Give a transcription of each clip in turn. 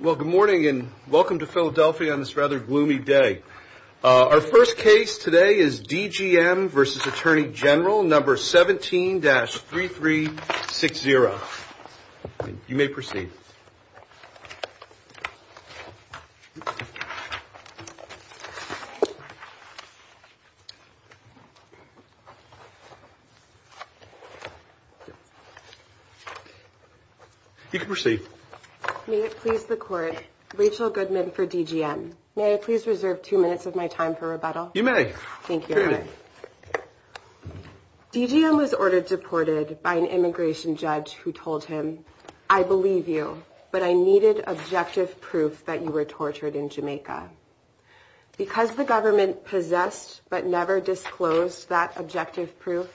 Well, good morning and welcome to Philadelphia on this rather gloomy day. Our first case today is D.G.M. v. Attorney General, number 17-3360. You may proceed. You can proceed. May it please the Court, Rachel Goodman for D.G.M. May I please reserve two minutes of my time for rebuttal? You may. Thank you, Your Honor. D.G.M. was ordered deported by an immigration judge who told him, I believe you, but I needed objective proof that you were tortured in Jamaica. Because the government possessed but never disclosed that objective proof,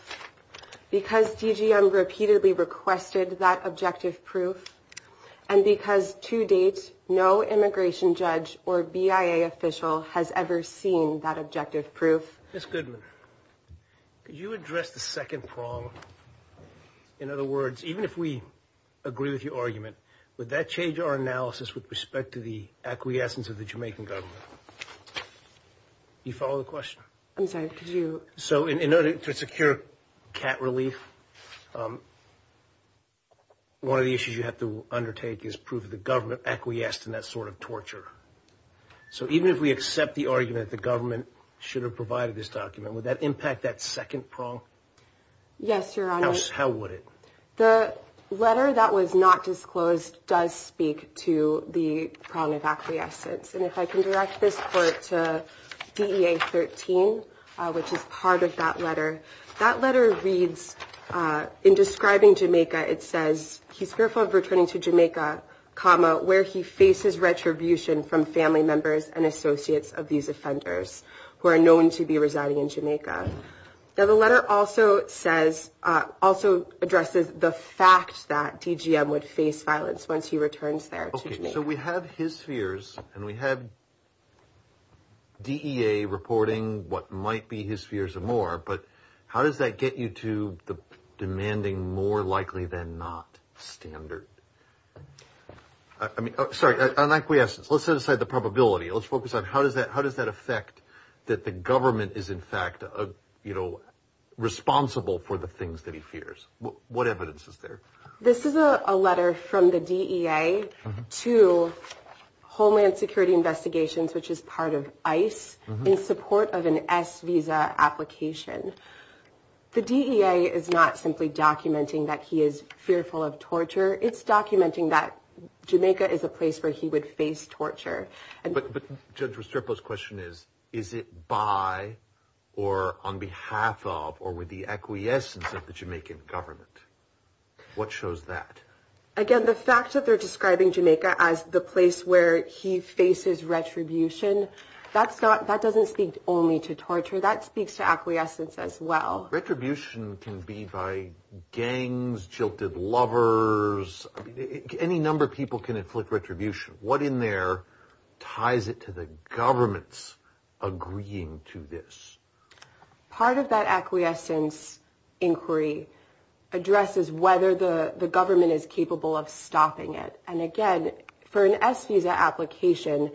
because D.G.M. repeatedly requested that objective proof, and because to date no immigration judge or BIA official has ever seen that objective proof. Ms. Goodman, could you address the second prong? In other words, even if we agree with your argument, would that change our analysis with respect to the acquiescence of the Jamaican government? Do you follow the question? I'm sorry, could you? So in order to secure cat relief, one of the issues you have to undertake is proof that the government acquiesced in that sort of torture. So even if we accept the argument that the government should have provided this document, would that impact that second prong? Yes, Your Honor. How would it? The letter that was not disclosed does speak to the prong of acquiescence. And if I can direct this court to DEA 13, which is part of that letter. That letter reads, in describing Jamaica, it says, he's fearful of returning to Jamaica, comma, where he faces retribution from family members and associates of these offenders, who are known to be residing in Jamaica. Now the letter also says, also addresses the fact that D.G.M. would face violence once he returns there to Jamaica. So we have his fears, and we have DEA reporting what might be his fears and more, but how does that get you to the demanding more likely than not standard? I mean, sorry, on acquiescence, let's set aside the probability. Let's focus on how does that affect that the government is in fact, you know, responsible for the things that he fears? What evidence is there? This is a letter from the DEA to Homeland Security Investigations, which is part of ICE in support of an S visa application. The DEA is not simply documenting that he is fearful of torture. It's documenting that Jamaica is a place where he would face torture. But Judge Restrepo's question is, is it by or on behalf of or with the acquiescence of the Jamaican government? What shows that? Again, the fact that they're describing Jamaica as the place where he faces retribution, that doesn't speak only to torture. That speaks to acquiescence as well. Retribution can be by gangs, jilted lovers. Any number of people can inflict retribution. What in there ties it to the government's agreeing to this? Part of that acquiescence inquiry addresses whether the government is capable of stopping it. And again, for an S visa application,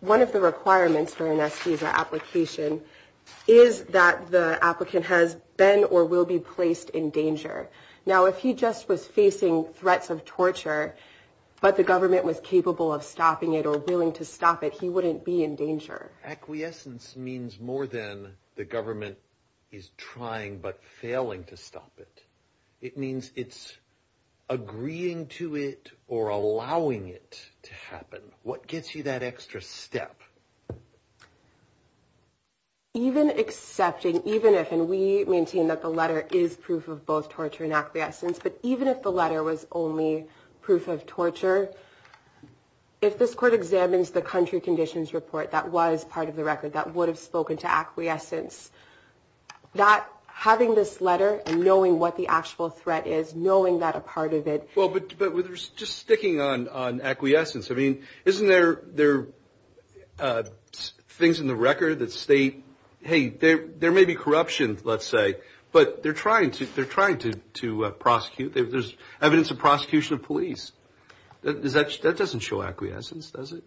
one of the requirements for an S visa application is that the applicant has been or will be placed in danger. Now, if he just was facing threats of torture, but the government was capable of stopping it or willing to stop it, he wouldn't be in danger. Acquiescence means more than the government is trying but failing to stop it. It means it's agreeing to it or allowing it to happen. What gets you that extra step? Even accepting, even if, and we maintain that the letter is proof of both torture and acquiescence, but even if the letter was only proof of torture, if this court examines the country conditions report that was part of the record, that would have spoken to acquiescence, that having this letter and knowing what the actual threat is, knowing that a part of it. Well, but just sticking on acquiescence, I mean, isn't there things in the record that state, hey, there may be corruption, let's say, but they're trying to prosecute. There's evidence of prosecution of police. That doesn't show acquiescence, does it?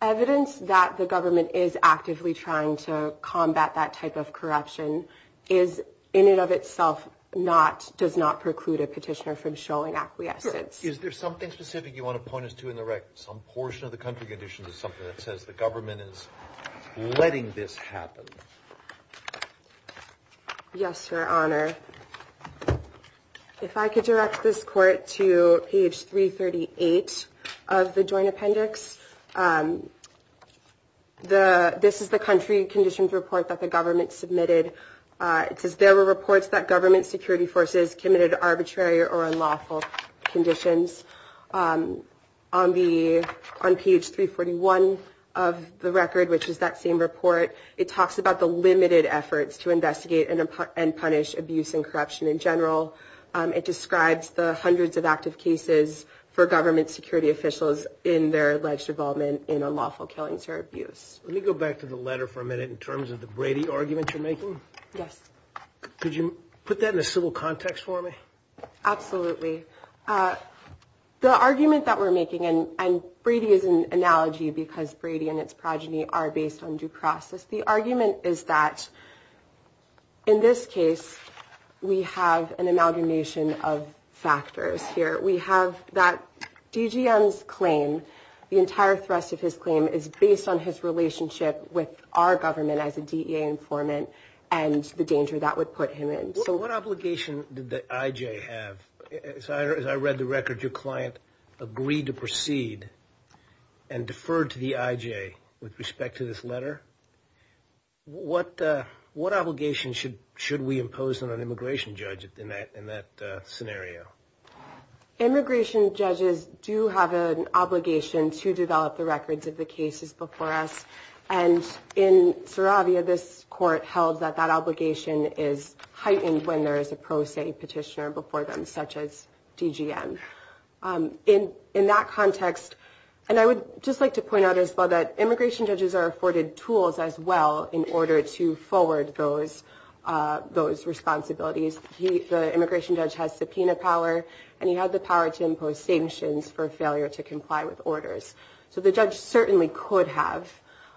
Evidence that the government is actively trying to combat that type of corruption is, in and of itself, does not preclude a petitioner from showing acquiescence. Is there something specific you want to point us to in the record? Some portion of the country conditions is something that says the government is letting this happen. Yes, Your Honor. Your Honor, if I could direct this court to page 338 of the joint appendix. This is the country conditions report that the government submitted. It says there were reports that government security forces committed arbitrary or unlawful conditions. On page 341 of the record, which is that same report, it talks about the limited efforts to investigate and punish abuse and corruption in general. It describes the hundreds of active cases for government security officials in their alleged involvement in unlawful killings or abuse. Let me go back to the letter for a minute in terms of the Brady argument you're making. Yes. Could you put that in a civil context for me? Absolutely. The argument that we're making, and Brady is an analogy because Brady and its progeny are based on due process. The argument is that in this case, we have an amalgamation of factors here. We have that DGN's claim, the entire thrust of his claim, is based on his relationship with our government as a DEA informant and the danger that would put him in. So what obligation did the IJ have? As I read the record, your client agreed to proceed and deferred to the IJ with respect to this letter. What obligation should we impose on an immigration judge in that scenario? Immigration judges do have an obligation to develop the records of the cases before us. In Saravia, this court held that that obligation is heightened when there is a pro se petitioner before them, such as DGN. In that context, and I would just like to point out as well that immigration judges are afforded tools as well in order to forward those responsibilities. The immigration judge has subpoena power, and he had the power to impose sanctions for failure to comply with orders. So the judge certainly could have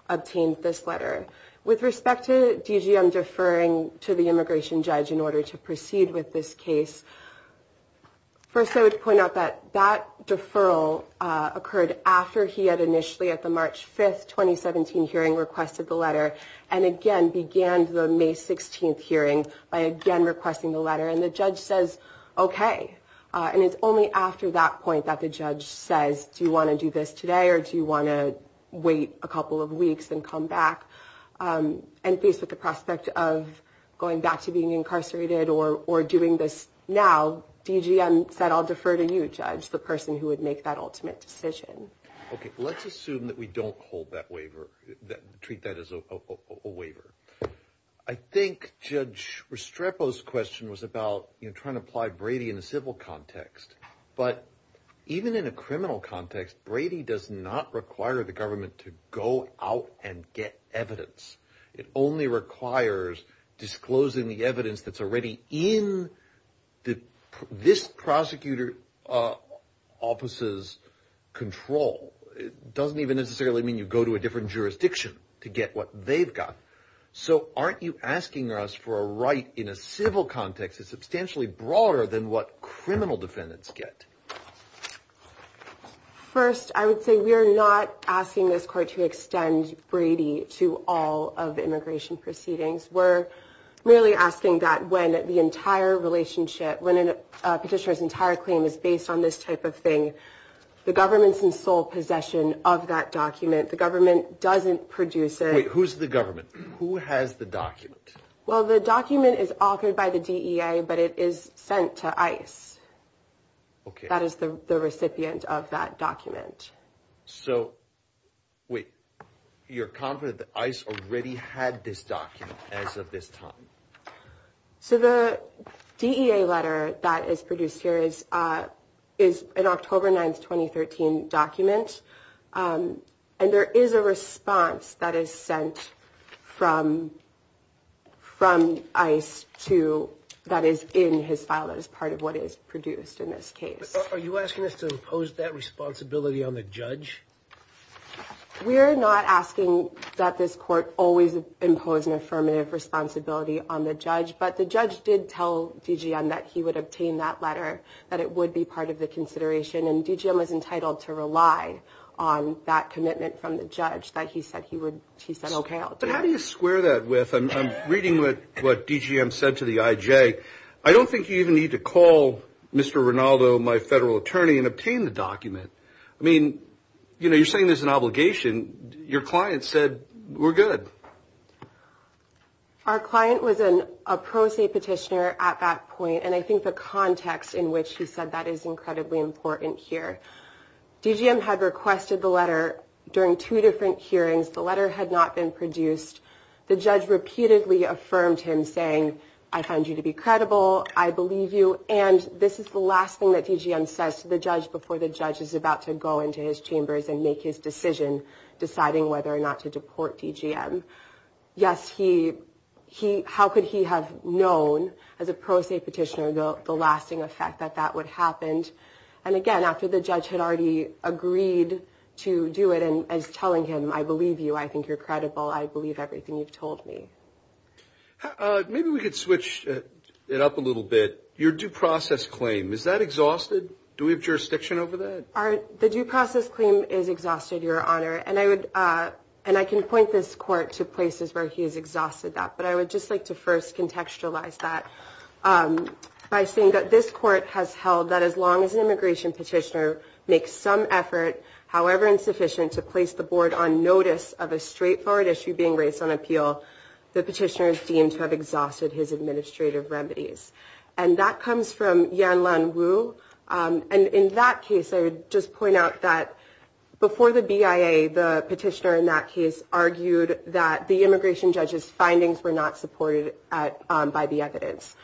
obtained this letter. With respect to DGN deferring to the immigration judge in order to proceed with this case, first I would point out that that deferral occurred after he had initially, at the March 5th, 2017 hearing, requested the letter and again began the May 16th hearing by again requesting the letter. And the judge says, okay. And it's only after that point that the judge says, do you want to do this today or do you want to wait a couple of weeks and come back? And faced with the prospect of going back to being incarcerated or doing this now, DGN said, I'll defer to you, judge, the person who would make that ultimate decision. Okay, let's assume that we don't hold that waiver, treat that as a waiver. I think Judge Restrepo's question was about trying to apply Brady in a civil context. But even in a criminal context, Brady does not require the government to go out and get evidence. It only requires disclosing the evidence that's already in this prosecutor's office's control. It doesn't even necessarily mean you go to a different jurisdiction to get what they've got. So aren't you asking us for a right in a civil context that's substantially broader than what criminal defendants get? First, I would say we are not asking this court to extend Brady to all of immigration proceedings. We're really asking that when the entire relationship, when a petitioner's entire claim is based on this type of thing, the government's in sole possession of that document. The government doesn't produce it. Wait, who's the government? Who has the document? Well, the document is authored by the DEA, but it is sent to ICE. Okay. That is the recipient of that document. So, wait, you're confident that ICE already had this document as of this time? So the DEA letter that is produced here is an October 9, 2013 document, and there is a response that is sent from ICE that is in his file that is part of what is produced in this case. Are you asking us to impose that responsibility on the judge? We are not asking that this court always impose an affirmative responsibility on the judge, but the judge did tell DGM that he would obtain that letter, that it would be part of the consideration, and DGM was entitled to rely on that commitment from the judge that he said he would, he said, okay, I'll do it. But how do you square that with, I'm reading what DGM said to the IJ, I don't think you even need to call Mr. Rinaldo, my federal attorney, and obtain the document. I mean, you know, you're saying there's an obligation. Your client said, we're good. Our client was a pro se petitioner at that point, and I think the context in which he said that is incredibly important here. DGM had requested the letter during two different hearings. The letter had not been produced. The judge repeatedly affirmed him, saying, I find you to be credible, I believe you, and this is the last thing that DGM says to the judge before the judge is about to go into his chambers and make his decision deciding whether or not to deport DGM. Yes, how could he have known as a pro se petitioner the lasting effect that that would happen? And, again, after the judge had already agreed to do it and is telling him, I believe you, I think you're credible, I believe everything you've told me. Maybe we could switch it up a little bit. Your due process claim, is that exhausted? Do we have jurisdiction over that? The due process claim is exhausted, Your Honor, and I can point this court to places where he has exhausted that, but I would just like to first contextualize that by saying that this court has held that as long as an immigration petitioner makes some effort, however insufficient, to place the board on notice of a straightforward issue being raised on appeal, the petitioner is deemed to have exhausted his administrative remedies. And that comes from Yanlan Wu, and in that case, I would just point out that before the BIA, the petitioner in that case argued that the immigration judge's findings were not supported by the evidence.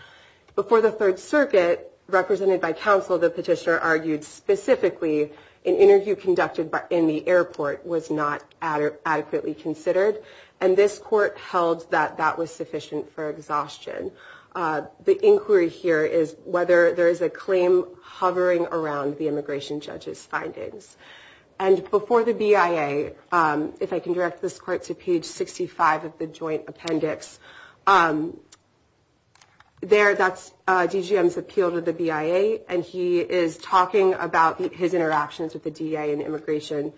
Before the Third Circuit, represented by counsel, the petitioner argued specifically an interview conducted in the airport was not adequately considered, and this court held that that was sufficient for exhaustion. The inquiry here is whether there is a claim hovering around the immigration judge's findings. And before the BIA, if I can direct this court to page 65 of the joint appendix, there, that's DGM's appeal to the BIA, and he is talking about his interactions with the DEA and immigration,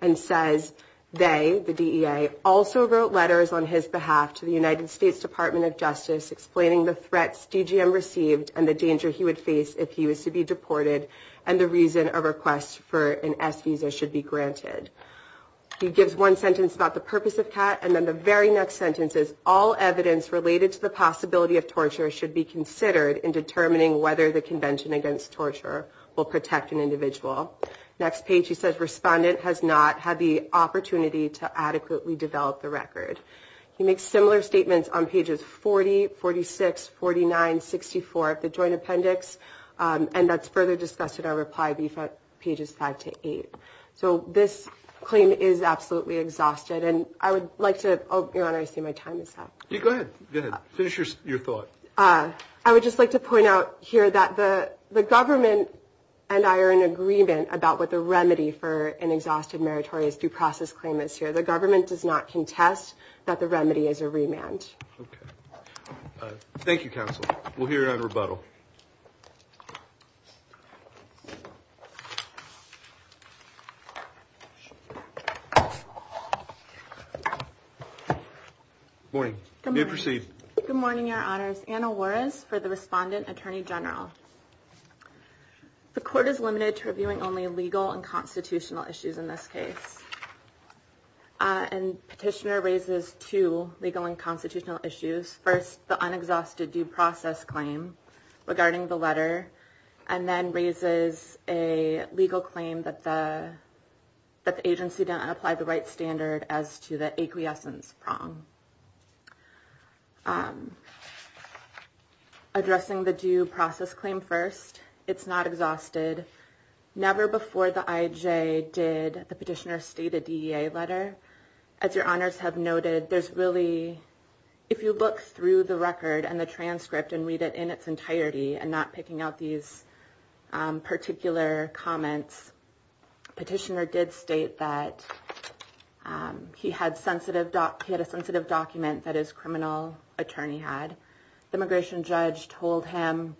and says they, the DEA, also wrote letters on his behalf to the United States Department of Justice explaining the threats DGM received and the danger he would face if he was to be deported and the reason a request for an S visa should be granted. He gives one sentence about the purpose of CAT, and then the very next sentence is, all evidence related to the possibility of torture should be considered in determining whether the Convention Against Torture will protect an individual. Next page, he says, respondent has not had the opportunity to adequately develop the record. He makes similar statements on pages 40, 46, 49, 64 of the joint appendix, and that's further discussed in our reply brief on pages 5 to 8. So this claim is absolutely exhausted, and I would like to, oh, Your Honor, I see my time is up. Yeah, go ahead. Go ahead. Finish your thought. I would just like to point out here that the government and I are in agreement about what the remedy for an exhausted meritorious due process claim is here. The government does not contest that the remedy is a remand. Thank you, counsel. We'll hear your rebuttal. Good morning. You may proceed. Good morning, Your Honors. Anna Juarez for the respondent, Attorney General. The court is limited to reviewing only legal and constitutional issues in this case, and Petitioner raises two legal and constitutional issues. First, the unexhausted due process claim regarding the letter, and then raises a legal claim that the agency didn't apply the right standard as to the acquiescence prong. Addressing the due process claim first, it's not exhausted. Never before the IJ did the Petitioner state a DEA letter. As Your Honors have noted, there's really, if you look through the record and the transcript and read it in its entirety and not picking out these particular comments, Petitioner did state that he had a sensitive document that his criminal attorney had. The immigration judge told him,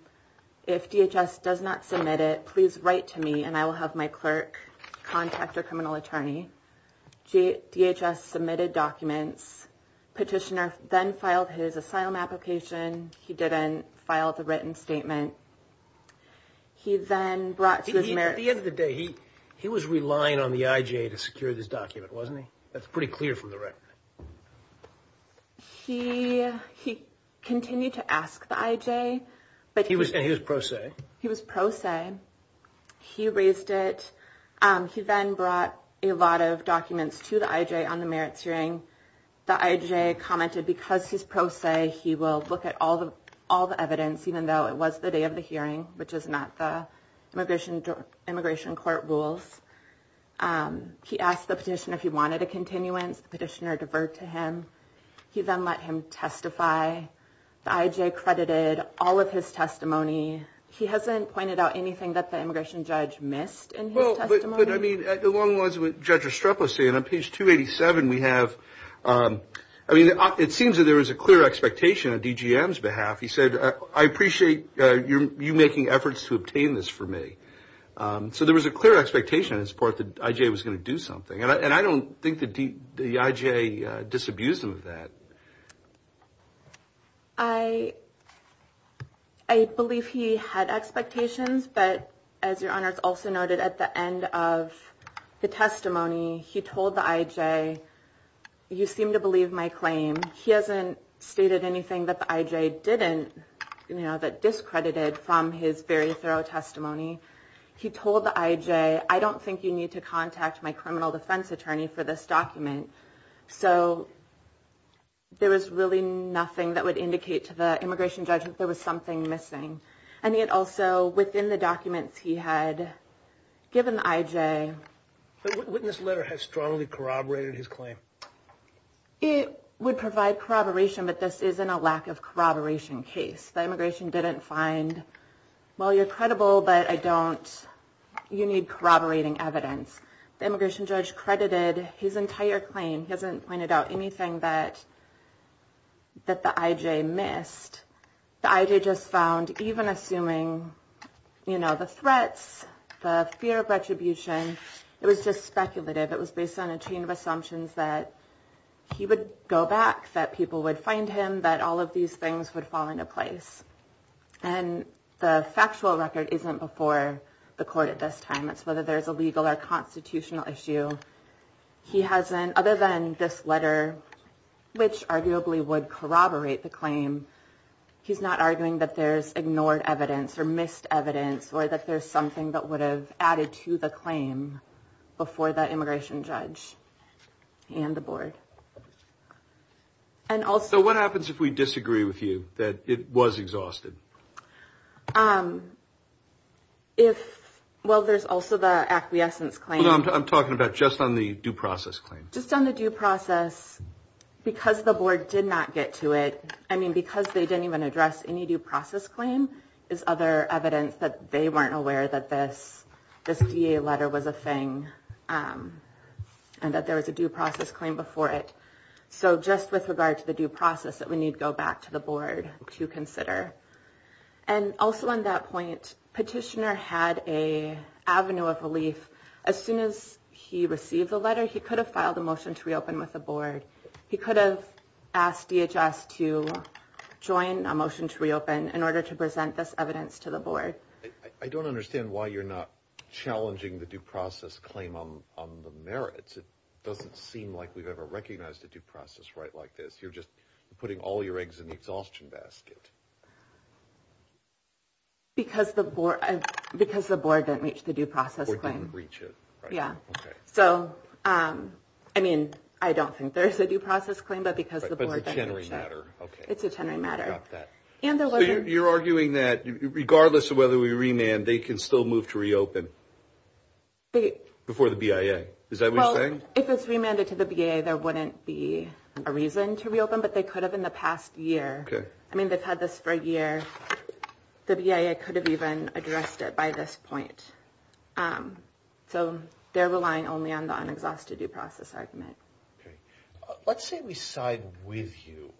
if DHS does not submit it, please write to me and I will have my clerk contact your criminal attorney. DHS submitted documents. Petitioner then filed his asylum application. He didn't file the written statement. At the end of the day, he was relying on the IJ to secure this document, wasn't he? That's pretty clear from the record. He continued to ask the IJ. And he was pro se? He was pro se. He raised it. He then brought a lot of documents to the IJ on the merits hearing. The IJ commented because he's pro se, he will look at all the evidence, even though it was the day of the hearing, which is not the immigration court rules. He asked the petitioner if he wanted a continuance. The petitioner deferred to him. He then let him testify. The IJ credited all of his testimony. He hasn't pointed out anything that the immigration judge missed in his testimony? But, I mean, along the lines of what Judge Estrepo said, on page 287 we have, I mean, it seems that there was a clear expectation on DGM's behalf. He said, I appreciate you making efforts to obtain this for me. So there was a clear expectation on his part that the IJ was going to do something. And I don't think the IJ disabused him of that. I believe he had expectations. But, as Your Honor, it's also noted at the end of the testimony, he told the IJ, you seem to believe my claim. He hasn't stated anything that the IJ didn't, you know, discredited from his very thorough testimony. He told the IJ, I don't think you need to contact my criminal defense attorney for this document. So there was really nothing that would indicate to the immigration judge that there was something missing. And yet also within the documents he had given the IJ. But wouldn't this letter have strongly corroborated his claim? It would provide corroboration, but this isn't a lack of corroboration case. The immigration didn't find, well, you're credible, but I don't, you need corroborating evidence. The immigration judge credited his entire claim. He hasn't pointed out anything that the IJ missed. The IJ just found, even assuming, you know, the threats, the fear of retribution, it was just speculative. It was based on a chain of assumptions that he would go back, that people would find him, that all of these things would fall into place. And the factual record isn't before the court at this time. It's whether there's a legal or constitutional issue. He hasn't, other than this letter, which arguably would corroborate the claim, he's not arguing that there's ignored evidence or missed evidence, or that there's something that would have added to the claim before the immigration judge and the board. So what happens if we disagree with you, that it was exhausted? Well, there's also the acquiescence claim. I'm talking about just on the due process claim. Just on the due process, because the board did not get to it, I mean, because they didn't even address any due process claim, there's other evidence that they weren't aware that this DA letter was a thing, and that there was a due process claim before it. So just with regard to the due process, that we need to go back to the board to consider. And also on that point, petitioner had an avenue of relief. As soon as he received the letter, he could have filed a motion to reopen with the board. He could have asked DHS to join a motion to reopen in order to present this evidence to the board. I don't understand why you're not challenging the due process claim on the merits. It doesn't seem like we've ever recognized a due process right like this. You're just putting all your eggs in the exhaustion basket. Because the board didn't reach the due process claim. Or didn't reach it. Yeah. So, I mean, I don't think there's a due process claim, but because the board didn't reach it. But it's a tenery matter. It's a tenery matter. You're arguing that regardless of whether we remand, they can still move to reopen before the BIA. Is that what you're saying? Well, if it's remanded to the BIA, there wouldn't be a reason to reopen. But they could have in the past year. I mean, they've had this for a year. The BIA could have even addressed it by this point. So they're relying only on the unexhausted due process argument. Let's say we side with you.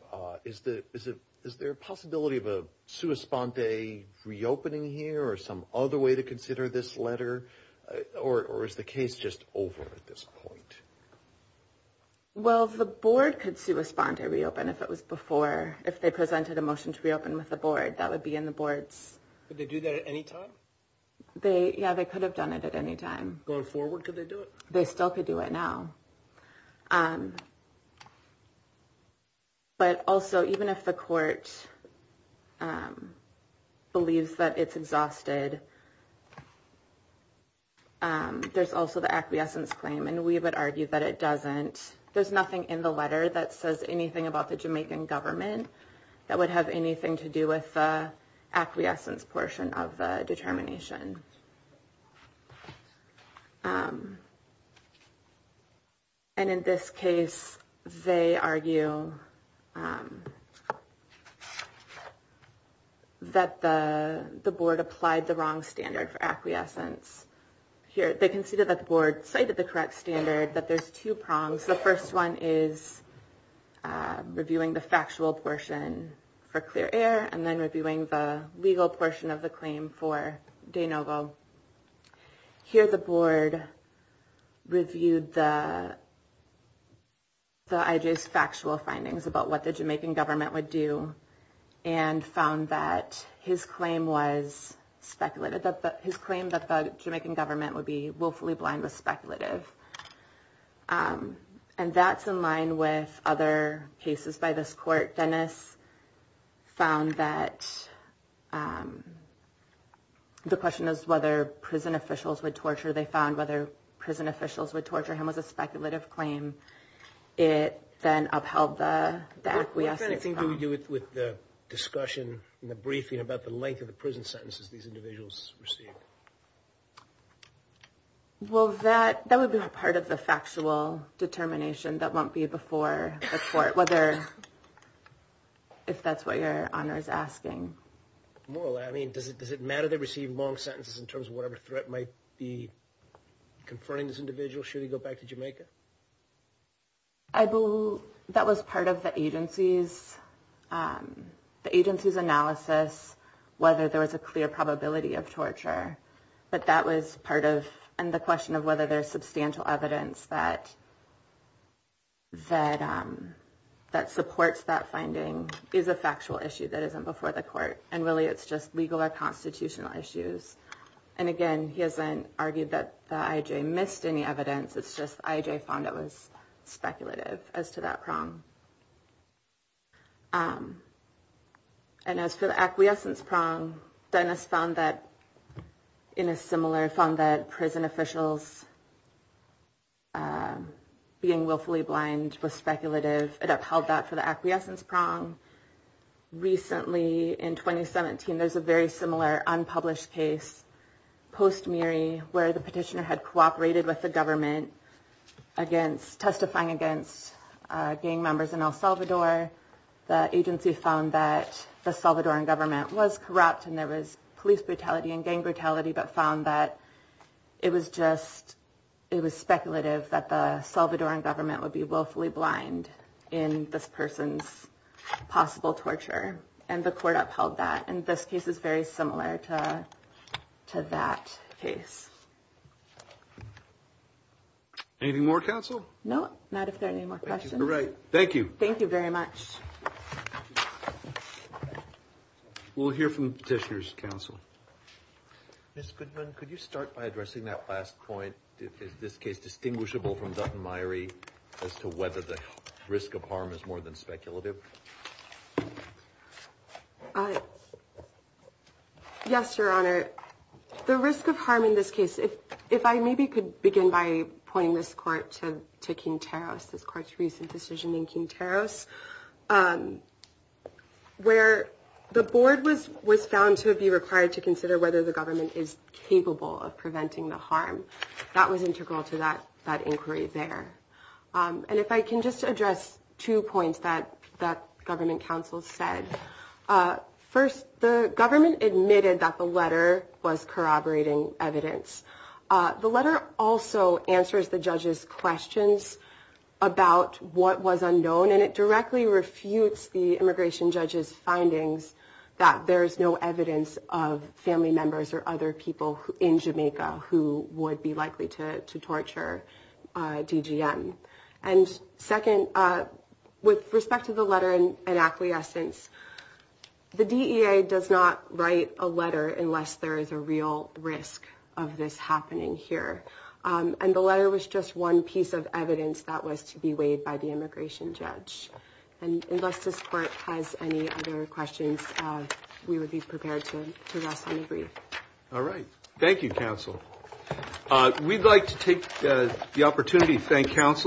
Is there a possibility of a sua sponte reopening here or some other way to consider this letter? Or is the case just over at this point? Well, the board could sua sponte reopen if it was before. If they presented a motion to reopen with the board, that would be in the board's. Could they do that at any time? Yeah, they could have done it at any time. Going forward, could they do it? They still could do it now. But also, even if the court believes that it's exhausted, there's also the acquiescence claim. And we would argue that it doesn't. There's nothing in the letter that says anything about the Jamaican government that would have anything to do with the acquiescence portion of the determination. And in this case, they argue that the board applied the wrong standard for acquiescence here. They conceded that the board cited the correct standard, that there's two prongs. The first one is reviewing the factual portion for clear air and then reviewing the legal portion of the claim for de novo. Here, the board reviewed the IJ's factual findings about what the Jamaican government would do and found that his claim was speculative. And that's in line with other cases by this court. Dennis found that the question is whether prison officials would torture. They found whether prison officials would torture him was a speculative claim. It then upheld the acquiescence claim. What kind of thing do we do with the discussion in the briefing about the length of the prison sentences these individuals received? Well, that would be a part of the factual determination that won't be before the court, if that's what your honor is asking. More or less. I mean, does it matter they received long sentences in terms of whatever threat might be confronting this individual should he go back to Jamaica? I believe that was part of the agency's analysis, whether there was a clear probability of torture. But that was part of the question of whether there's substantial evidence that supports that finding is a factual issue that isn't before the court. And really, it's just legal or constitutional issues. And again, he hasn't argued that the IJ missed any evidence. It's just IJ found it was speculative as to that prong. And as for the acquiescence prong, Dennis found that in a similar fund that prison officials being willfully blind was speculative. It upheld that for the acquiescence prong. Recently, in 2017, there's a very similar unpublished case, post Miri, where the petitioner had cooperated with the government against testifying against gang members in El Salvador. The agency found that the Salvadoran government was corrupt. And there was police brutality and gang brutality, but found that it was just it was speculative that the Salvadoran government would be willfully blind in this person's possible torture. And the court upheld that. And this case is very similar to that case. Any more counsel? No, not if there are any more questions. Right. Thank you. Thank you very much. We'll hear from petitioners, counsel. Ms. Goodman, could you start by addressing that last point? Is this case distinguishable from Miri as to whether the risk of harm is more than speculative? Yes, Your Honor. The risk of harm in this case, if I maybe could begin by pointing this court to King Taros, this court's recent decision in King Taros, where the board was found to be required to consider whether the government is capable of preventing the harm. That was integral to that inquiry there. And if I can just address two points that that government counsel said. First, the government admitted that the letter was corroborating evidence. The letter also answers the judge's questions about what was unknown, and it directly refutes the immigration judge's findings that there is no evidence of family members or other people in Jamaica who would be likely to torture DGM. And second, with respect to the letter and acquiescence, the DEA does not write a letter unless there is a real risk of this happening here. And the letter was just one piece of evidence that was to be weighed by the immigration judge. And unless this court has any other questions, we would be prepared to rest on the brief. All right. Thank you, counsel. We'd like to take the opportunity to thank counsel.